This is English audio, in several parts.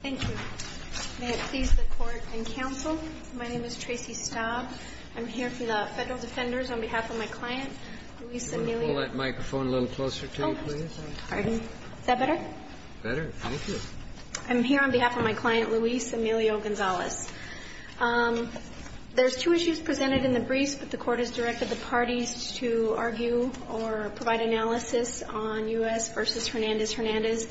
Thank you. May it please the Court and Counsel, my name is Tracy Staub. I'm here from the Federal Defenders on behalf of my client, Luis Emilio Hold that microphone a little closer to you, please. Pardon. Is that better? Better. Thank you. I'm here on behalf of my client Luis Emilio Gonzales. There's two issues presented in the briefs, but the Court has directed the parties to argue or provide analysis on U.S. v. Hernandez-Hernandez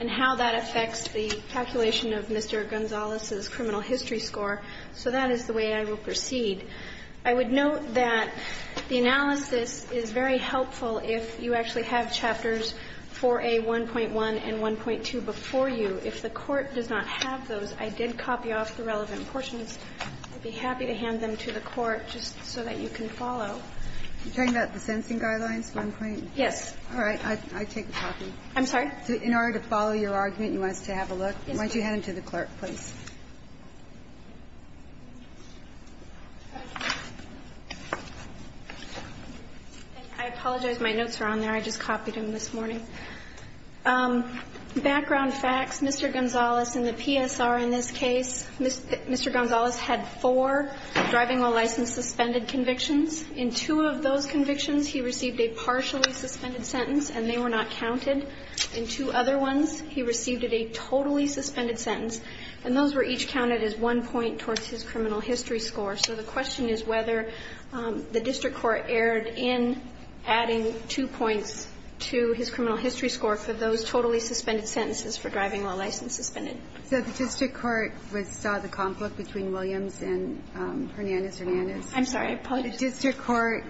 and how that affects the calculation of Mr. Gonzales' criminal history score. So that is the way I will proceed. I would note that the analysis is very helpful if you actually have Chapters 4A1.1 and 1.2 before you. If the Court does not have those, I did copy off the relevant portions. I'd be happy to hand them to the Court just so that you can follow. Are you talking about the Sensing Guidelines 1.0? Yes. All right. I take the copy. I'm sorry? In order to follow your argument, you want us to have a look? Yes, ma'am. Why don't you hand them to the clerk, please? I apologize. My notes are on there. I just copied them this morning. Background facts, Mr. Gonzales, in the PSR in this case, Mr. Gonzales had four driving while license suspended convictions. In two of those convictions, he received a partially suspended sentence, and they were not counted. In two other ones, he received a totally suspended sentence, and those were each counted as one point towards his criminal history score. So the question is whether the district court erred in adding two points to his criminal history score for those totally suspended sentences for driving while license suspended. So the district court saw the conflict between Williams and Hernandez-Hernandez? I'm sorry. The district court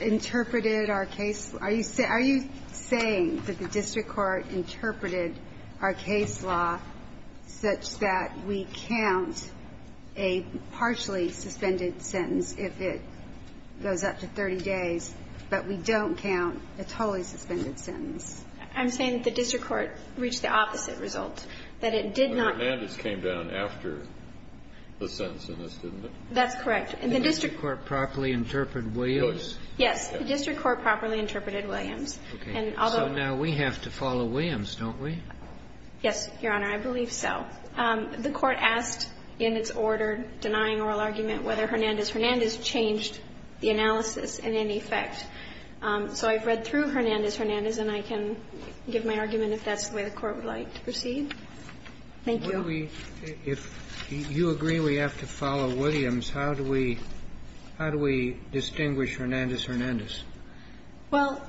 interpreted our case. Are you saying that the district court interpreted our case law such that we count a partially suspended sentence if it goes up to 30 days, but we don't count a totally suspended sentence? I'm saying that the district court reached the opposite result, that it did not. But Hernandez came down after the sentence in this, didn't it? That's correct. The district court properly interpreted Williams? Yes. The district court properly interpreted Williams. Okay. So now we have to follow Williams, don't we? Yes, Your Honor, I believe so. The court asked in its order denying oral argument whether Hernandez-Hernandez changed the analysis in any effect. So I've read through Hernandez-Hernandez, and I can give my argument if that's the way the court would like to proceed. Thank you. If you agree we have to follow Williams, how do we distinguish Hernandez-Hernandez? Well,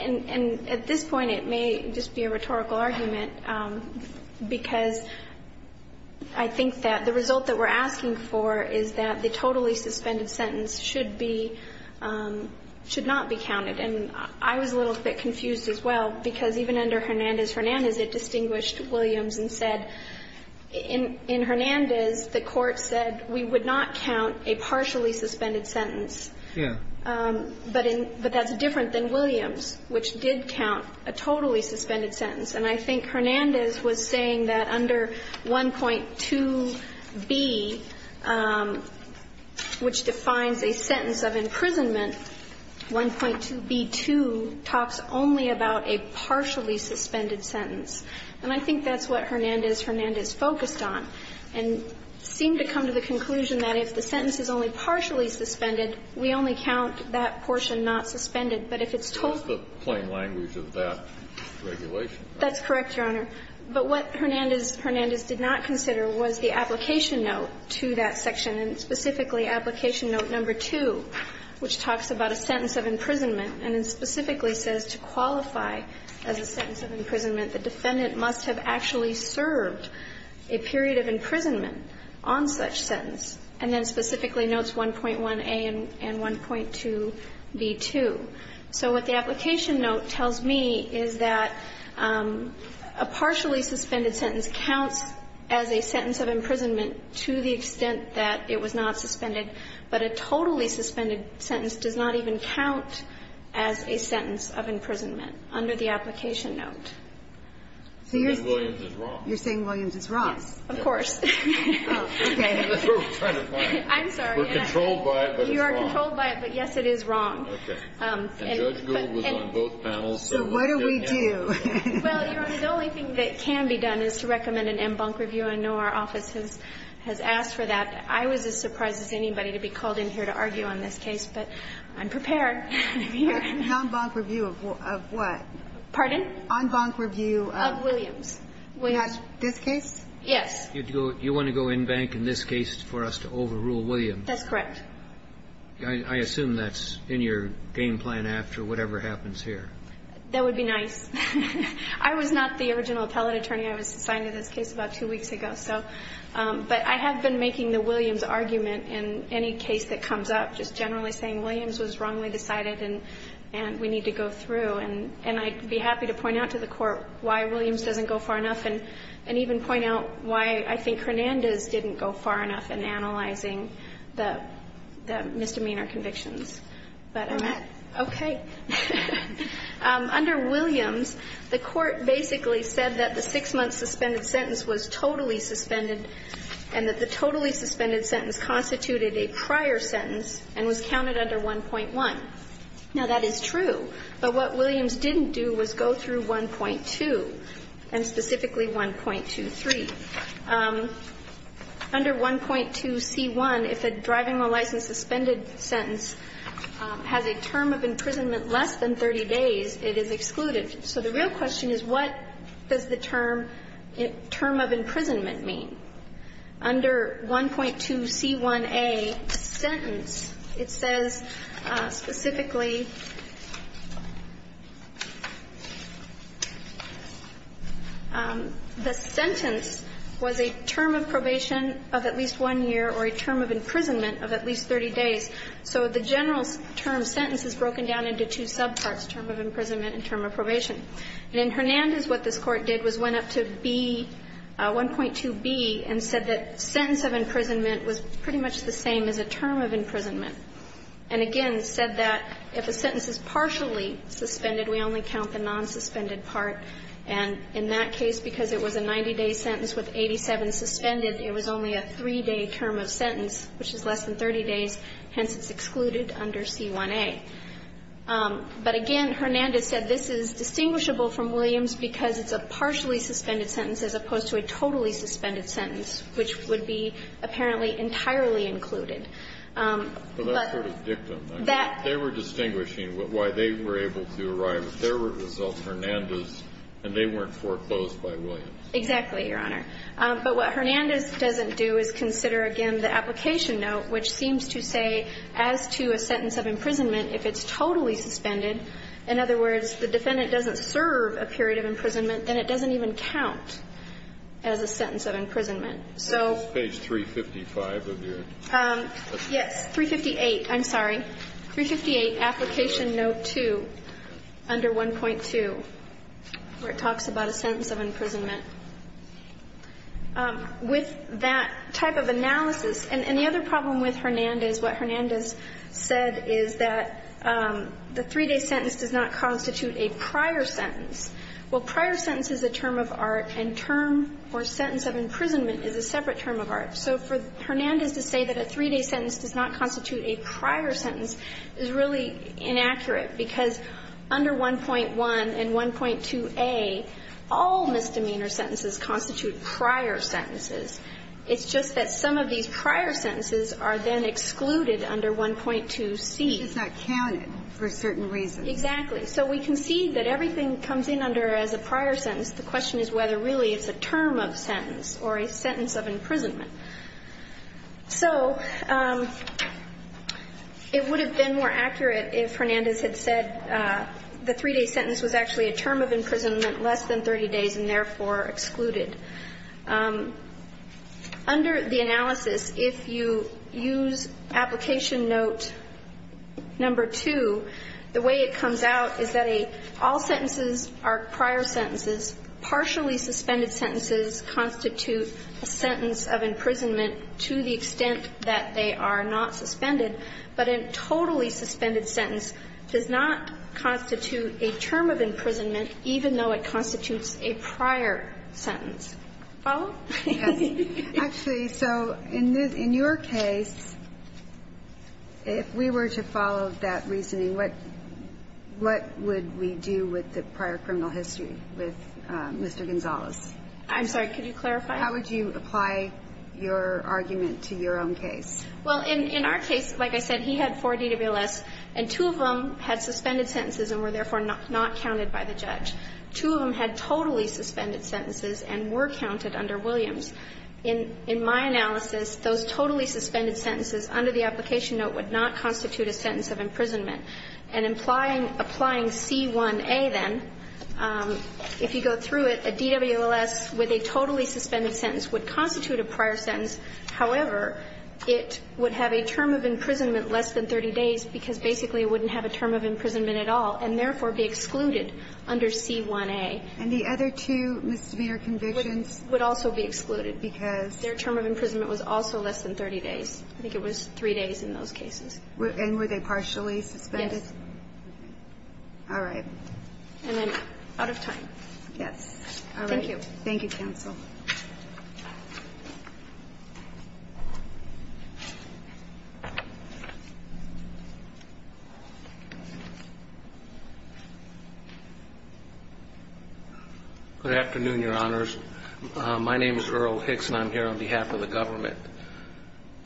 and at this point, it may just be a rhetorical argument, because I think that the result that we're asking for is that the totally suspended sentence should be – should not be counted. And I was a little bit confused as well, because even under Hernandez-Hernandez, it distinguished Williams and said – in Hernandez, the court said we would not count a partially suspended sentence. Yeah. But in – but that's different than Williams, which did count a totally suspended sentence. And I think Hernandez was saying that under 1.2b, which defines a sentence of imprisonment, 1.2b2 talks only about a partially suspended sentence. And I think that's what Hernandez-Hernandez focused on and seemed to come to the conclusion that if the sentence is only partially suspended, we only count that portion not suspended. But if it's totally – It's the plain language of that regulation. That's correct, Your Honor. But what Hernandez-Hernandez did not consider was the application note to that section, and specifically application note number 2, which talks about a sentence of imprisonment and then specifically says to qualify as a sentence of imprisonment, the defendant must have actually served a period of imprisonment on such sentence, and then specifically notes 1.1a and 1.2b2. So what the application note tells me is that a partially suspended sentence counts as a sentence of imprisonment to the extent that it was not suspended, but a totally suspended sentence does not even count as a sentence of imprisonment under the application note. So you're saying Williams is wrong? You're saying Williams is wrong? Yes, of course. Oh, okay. That's what we're trying to find. I'm sorry. We're controlled by it, but it's wrong. You are controlled by it, but, yes, it is wrong. Okay. And Judge Gould was on both panels, so we're getting at it. So what do we do? Well, Your Honor, the only thing that can be done is to recommend an en banc review. I know our office has asked for that. I was as surprised as anybody to be called in here to argue on this case, but I'm prepared. An en banc review of what? Pardon? An en banc review of Williams. Of Williams. This case? Yes. You want to go en banc in this case for us to overrule Williams? That's correct. I assume that's in your game plan after whatever happens here. That would be nice. I was not the original appellate attorney. I was assigned to this case about two weeks ago. But I have been making the Williams argument in any case that comes up, just generally saying Williams was wrongly decided and we need to go through. And I'd be happy to point out to the court why Williams doesn't go far enough and even point out why I think Hernandez didn't go far enough in analyzing the misdemeanor convictions. All right. Okay. Under Williams, the court basically said that the six-month suspended sentence was totally suspended and that the totally suspended sentence constituted a prior sentence and was counted under 1.1. Now, that is true. But what Williams didn't do was go through 1.2 and specifically 1.23. Under 1.2c1, if a driving license suspended sentence has a term of imprisonment less than 30 days, it is excluded. So the real question is what does the term of imprisonment mean? Under 1.2c1a, sentence, it says specifically the sentence was a term of probation of at least one year or a term of imprisonment of at least 30 days. So the general term sentence is broken down into two subparts, term of imprisonment and term of probation. And in Hernandez, what this Court did was went up to B, 1.2b, and said that sentence of imprisonment was pretty much the same as a term of imprisonment, and again, said that if a sentence is partially suspended, we only count the non-suspended part. And in that case, because it was a 90-day sentence with 87 suspended, it was only a 3-day term of sentence, which is less than 30 days, hence it's excluded under 1.2c1a. But again, Hernandez said this is distinguishable from Williams because it's a partially suspended sentence as opposed to a totally suspended sentence, which would be apparently entirely included. But that's sort of dictum. They were distinguishing why they were able to arrive. If there were results, Hernandez, and they weren't foreclosed by Williams. Exactly, Your Honor. But what Hernandez doesn't do is consider, again, the application note, which seems to say as to a sentence of imprisonment, if it's totally suspended, in other words, the defendant doesn't serve a period of imprisonment, then it doesn't even count as a sentence of imprisonment. So the sentence of imprisonment is 358, I'm sorry, 358 application note 2, under 1.2, where it talks about a sentence of imprisonment. With that type of analysis, and the other problem with Hernandez, what Hernandez said is that the 3-day sentence does not constitute a prior sentence. Well, prior sentence is a term of art, and term or sentence of imprisonment is a separate term of art. So for Hernandez to say that a 3-day sentence does not constitute a prior sentence is really inaccurate, because under 1.1 and 1.2a, all misdemeanor sentences constitute prior sentences. It's just that some of these prior sentences are then excluded under 1.2c. It's not counted for certain reasons. Exactly. So we can see that everything comes in under as a prior sentence. The question is whether really it's a term of sentence or a sentence of imprisonment. So it would have been more accurate if Hernandez had said the 3-day sentence was actually a term of imprisonment less than 30 days and therefore excluded. Under the analysis, if you use application note number 2, the way it comes out is that all sentences are prior sentences, partially suspended sentences constitute a sentence of imprisonment to the extent that they are not suspended. But a totally suspended sentence does not constitute a term of imprisonment, even though it constitutes a prior sentence. Follow? Yes. Actually, so in your case, if we were to follow that reasoning, what would we do with the prior criminal history with Mr. Gonzales? I'm sorry, could you clarify? How would you apply your argument to your own case? Well, in our case, like I said, he had four DWLS, and two of them had suspended sentences and were therefore not counted by the judge. Two of them had totally suspended sentences and were counted under Williams. In my analysis, those totally suspended sentences under the application note would not constitute a sentence of imprisonment. And applying C1a then, if you go through it, a DWLS with a totally suspended sentence would constitute a prior sentence. However, it would have a term of imprisonment less than 30 days, because basically it wouldn't have a term of imprisonment at all, and therefore be excluded under C1a. And the other two misdemeanor convictions? Would also be excluded because their term of imprisonment was also less than 30 days. I think it was three days in those cases. And were they partially suspended? Yes. All right. And then out of time. Yes. All right. Thank you. Thank you, counsel. Good afternoon, your honors. My name is Earl Hicks, and I'm here on behalf of the government.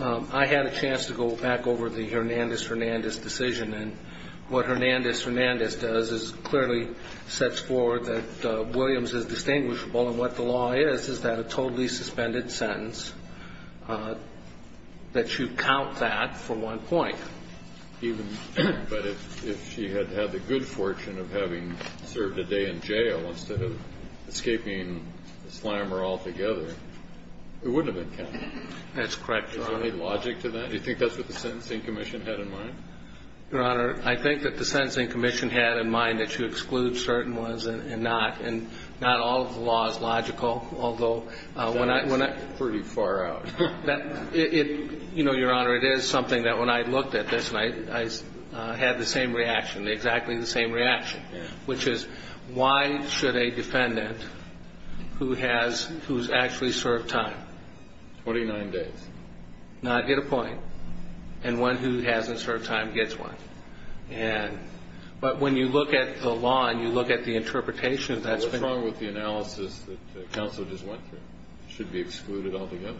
I had a chance to go back over the Hernandez-Hernandez decision. And what Hernandez-Hernandez does is clearly sets forward that Williams is a totally suspended sentence, that you count that for one point. Even if she had had the good fortune of having served a day in jail instead of escaping the slammer altogether, it wouldn't have been counted. That's correct, your honor. Is there any logic to that? Do you think that's what the Sentencing Commission had in mind? Your honor, I think that the Sentencing Commission had in mind that you exclude certain ones and not. Not all of the law is logical, although when I. That's pretty far out. You know, your honor, it is something that when I looked at this and I had the same reaction, exactly the same reaction, which is why should a defendant who has, who's actually served time. 29 days. Not hit a point. And one who hasn't served time gets one. And, but when you look at the law and you look at the interpretation of that. What's wrong with the analysis that counsel just went through? Should be excluded altogether.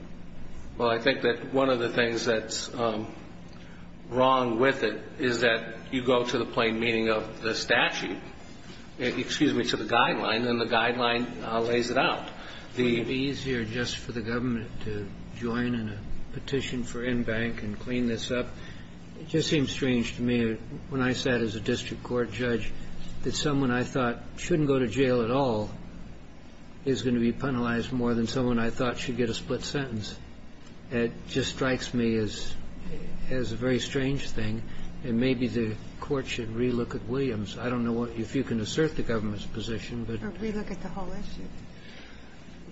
Well, I think that one of the things that's wrong with it is that you go to the plain meaning of the statute, excuse me, to the guideline, and the guideline lays it out. Would it be easier just for the government to join in a petition for in bank and clean this up? It just seems strange to me when I sat as a district court judge that someone I thought shouldn't go to jail at all is going to be penalized more than someone I thought should get a split sentence. It just strikes me as a very strange thing. And maybe the court should re-look at Williams. I don't know if you can assert the government's position, but. Or re-look at the whole issue.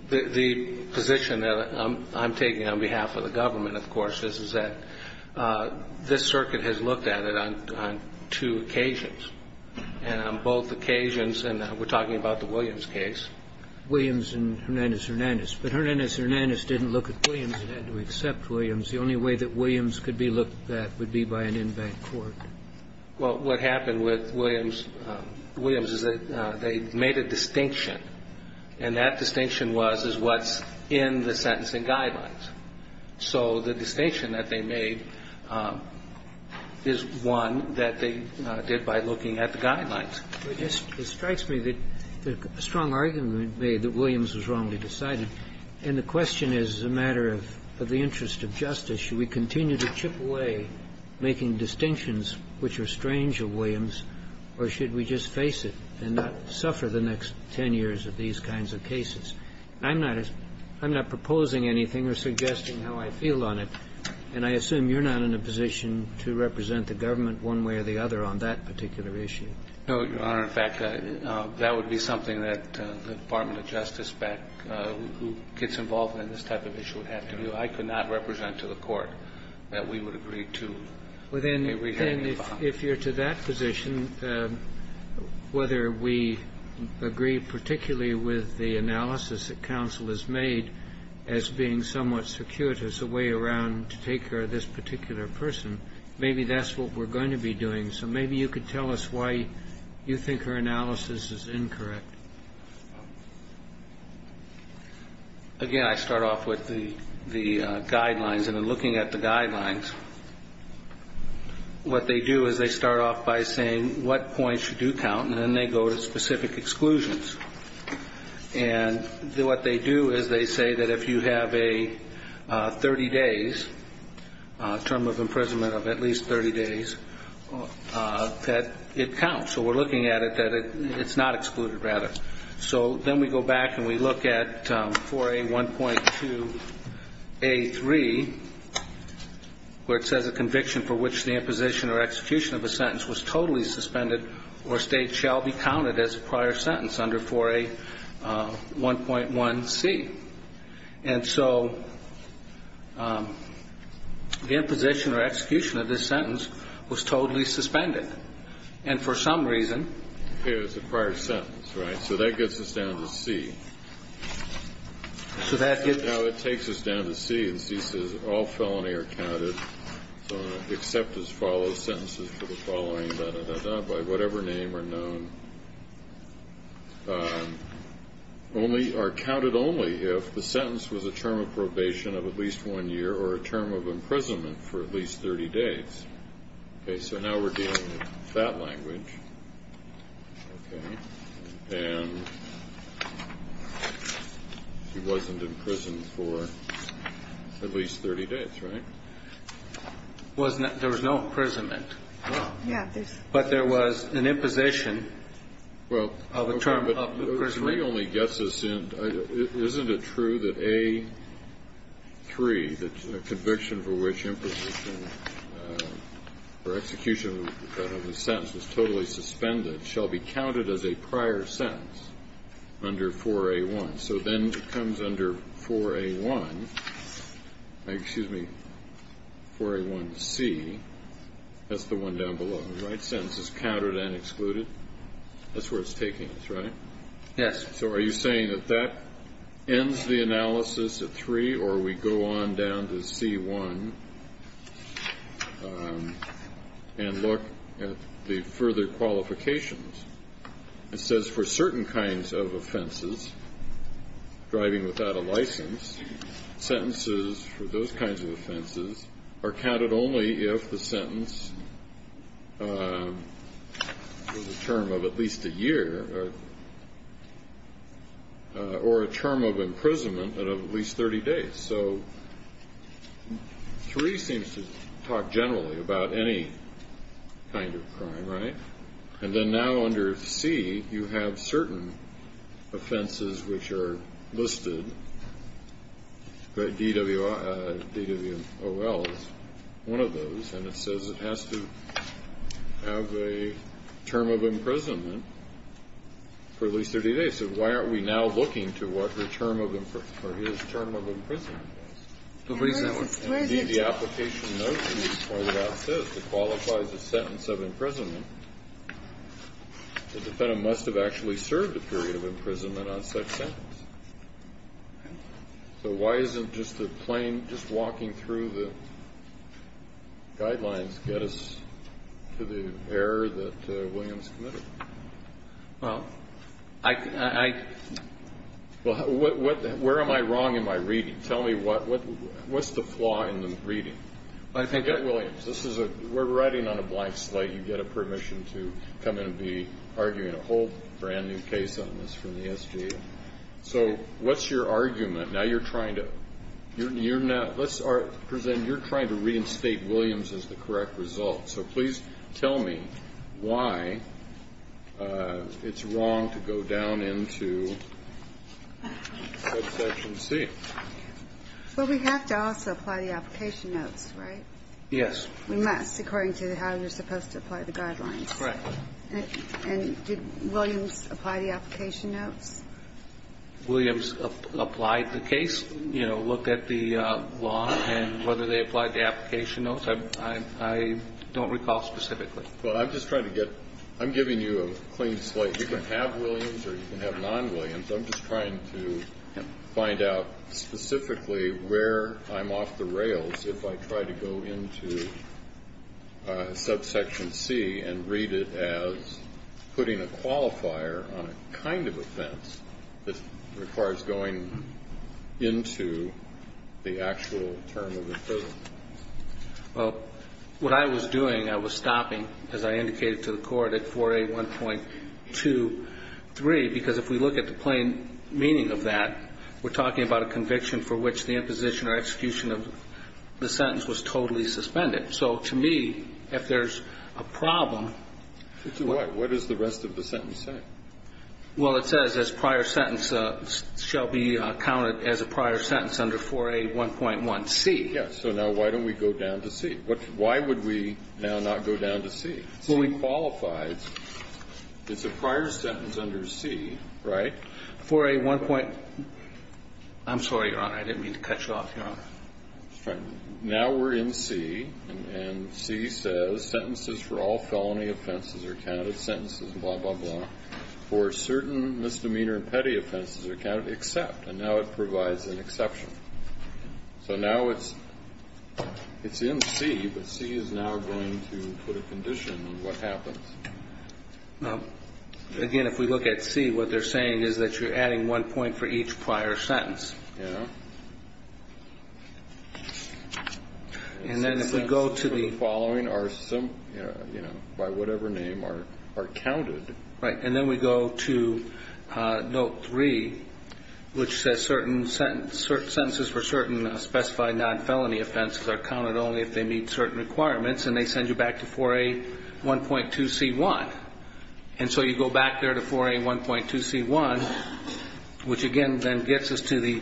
The position that I'm taking on behalf of the government, of course, is that this circuit has looked at it on two occasions. And on both occasions, and we're talking about the Williams case. Williams and Hernandez-Hernandez. But Hernandez-Hernandez didn't look at Williams and had to accept Williams. The only way that Williams could be looked at would be by an in-bank court. Well, what happened with Williams is that they made a distinction. And that distinction was, is what's in the sentencing guidelines. So the distinction that they made is one that they did by looking at the guidelines. It just strikes me that the strong argument made that Williams was wrongly decided. And the question is, as a matter of the interest of justice, should we continue to chip away, making distinctions which are strange of Williams, or should we just face it and not suffer the next ten years of these kinds of cases? I'm not proposing anything or suggesting how I feel on it. And I assume you're not in a position to represent the government one way or the other on that particular issue. No, Your Honor. In fact, that would be something that the Department of Justice back who gets involved in this type of issue would have to do. I could not represent to the Court that we would agree to a re-hearing. Well, then, if you're to that position, whether we agree particularly with the analysis that counsel has made as being somewhat circuitous, a way around to take care of this particular person, maybe that's what we're going to be doing. So maybe you could tell us why you think her analysis is incorrect. Again, I start off with the guidelines. And in looking at the guidelines, what they do is they start off by saying what points should do count, and then they go to specific exclusions. And what they do is they say that if you have a 30 days, a term of imprisonment of at least 30 days, that it counts. So we're looking at it that it's not excluded, rather. So then we go back and we look at 4A1.2A3, where it says a conviction for which the imposition or execution of a sentence was totally suspended or state shall be counted as a prior sentence under 4A1.1C. And so the imposition or execution of this sentence was totally suspended. And for some reason. It was a prior sentence, right? So that gets us down to C. So that gets. No, it takes us down to C. And C says all felony are counted except as follow sentences for the following da, da, da, by whatever name or known, only are counted only if the sentence was a term of probation of at least one year or a term of imprisonment for at least 30 days. So now we're dealing with that language. And she wasn't in prison for at least 30 days, right? There was no imprisonment. But there was an imposition of a term of the prison. It only gets us in. Isn't it true that A3, the conviction for which imposition or execution of a sentence was totally suspended shall be counted as a prior sentence under 4A1. So then it comes under 4A1, excuse me, 4A1C, that's the one down below, right? Sentences counted and excluded. That's where it's taking us, right? Yes. So are you saying that that ends the analysis at 3 or we go on down to C1 and look at the further qualifications? It says for certain kinds of offenses, driving without a license, sentences for those kinds of offenses are counted only if the sentence was a term of at least a year or a term of imprisonment of at least 30 days. So 3 seems to talk generally about any kind of crime, right? And then now under C, you have certain offenses which are listed, DWOL is one of those, and it says it has to have a term of imprisonment for at least 30 days. So why aren't we now looking to what the term of imprisonment is? What is that one? Indeed, the application notes in this part of that says it qualifies a sentence of imprisonment. The defendant must have actually served a period of imprisonment on such sentence. So why isn't just the plain, just walking through the guidelines get us to the error that Williams committed? Well, where am I wrong in my reading? Tell me what's the flaw in the reading? Williams, we're writing on a blank slate. You get a permission to come in and be arguing a whole brand-new case on this from the SGA. So what's your argument? Now you're trying to – let's present you're trying to reinstate Williams as the correct result. So please tell me why it's wrong to go down into subsection C. Well, we have to also apply the application notes, right? Yes. We must, according to how you're supposed to apply the guidelines. Correct. And did Williams apply the application notes? Williams applied the case, you know, looked at the law and whether they applied the application notes. I don't recall specifically. Well, I'm just trying to get – I'm giving you a clean slate. You can have Williams or you can have non-Williams. I'm just trying to find out specifically where I'm off the rails if I try to go into subsection C and read it as putting a qualifier on a kind of offense that requires going into the actual term of imprisonment. Well, what I was doing, I was stopping, as I indicated to the Court, at 4A1.23, because if we look at the plain meaning of that, we're talking about a conviction for which the imposition or execution of the sentence was totally suspended. So to me, if there's a problem – To what? What does the rest of the sentence say? Well, it says this prior sentence shall be counted as a prior sentence under 4A1.1C. Yes. So now why don't we go down to C? Why would we now not go down to C? C qualifies. It's a prior sentence under C, right? 4A1. – I'm sorry, Your Honor. I didn't mean to cut you off, Your Honor. Now we're in C, and C says sentences for all felony offenses are counted, sentences, blah, blah, blah, for certain misdemeanor and petty offenses are counted except, and now it provides an exception. So now it's in C, but C is now going to put a condition on what happens. Again, if we look at C, what they're saying is that you're adding one point for each prior sentence. Yes. And then if we go to the – Sentences for the following are, you know, by whatever name, are counted. Right, and then we go to Note 3, which says certain sentences for certain specified non-felony offenses are counted only if they meet certain requirements, and they send you back to 4A1.2C1. And so you go back there to 4A1.2C1, which again then gets us to the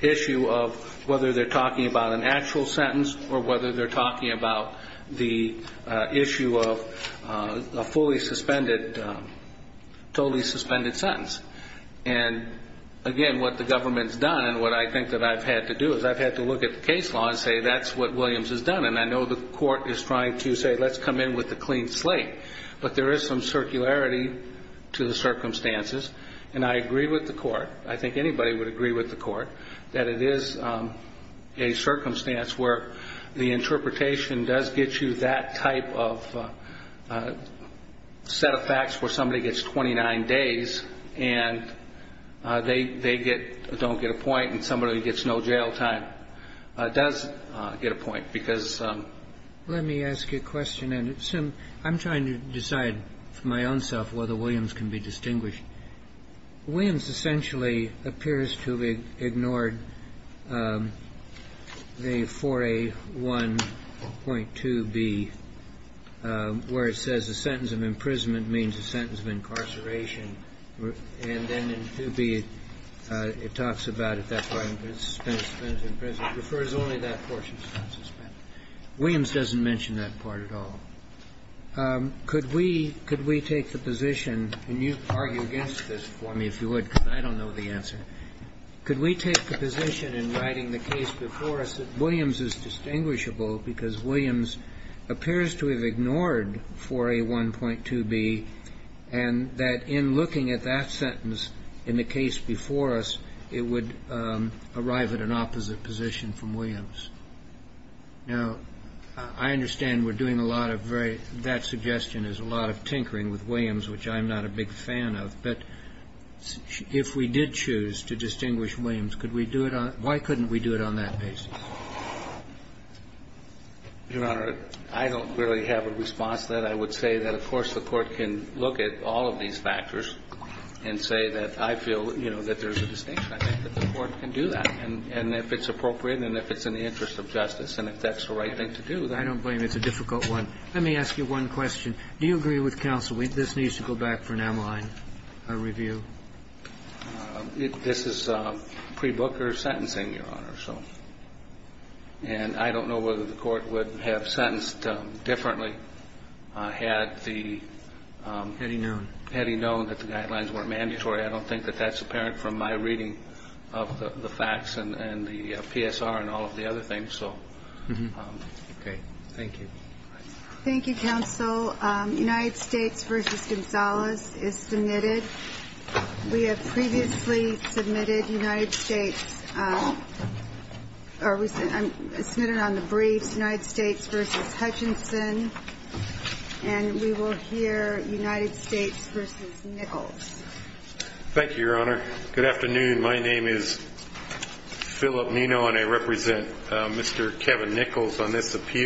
issue of whether they're talking about an actual sentence or whether they're talking about the issue of a fully suspended, totally suspended sentence. And again, what the government's done and what I think that I've had to do is I've had to look at the case law and say that's what Williams has done, and I know the court is trying to say let's come in with a clean slate, but there is some circularity to the circumstances. And I agree with the court, I think anybody would agree with the court, that it is a circumstance where the interpretation does get you that type of set of facts where somebody gets 29 days and they get – don't get a point and somebody gets no jail time does get a point because – Let me ask you a question, and I'm trying to decide for my own self whether Williams can be distinguished. Williams essentially appears to have ignored the 4A1.2B where it says a sentence of imprisonment means a sentence of incarceration, and then in 2B it talks about if that's why it's suspended, suspended, if it refers only to that portion, suspended. Williams doesn't mention that part at all. Could we – could we take the position, and you argue against this for me if you would because I don't know the answer. Could we take the position in writing the case before us that Williams is distinguishable because Williams appears to have ignored 4A1.2B and that in looking at that sentence in the case before us, it would arrive at an opposite position from Williams? Now, I understand we're doing a lot of very – that suggestion is a lot of tinkering with Williams, which I'm not a big fan of, but if we did choose to distinguish Williams, could we do it on – why couldn't we do it on that basis? Your Honor, I don't really have a response to that. I would say that, of course, the Court can look at all of these factors and say that I feel, you know, that there's a distinction. I think that the Court can do that, and if it's appropriate and if it's in the interest of justice and if that's the right thing to do. I don't blame you. It's a difficult one. Let me ask you one question. Do you agree with counsel that this needs to go back for an amyline review? This is pre-Booker sentencing, Your Honor, so. And I don't know whether the Court would have sentenced differently had the – Had he known. Had he known that the guidelines weren't mandatory. I don't think that that's apparent from my reading of the facts and the PSR and all of the other things, so. Okay. Thank you. Thank you, counsel. United States v. Gonzalez is submitted. We have previously submitted United States – or submitted on the briefs United States v. Hutchinson, and we will hear United States v. Nichols. Thank you, Your Honor. Good afternoon. My name is Philip Nino, and I represent Mr. Kevin Nichols on this appeal.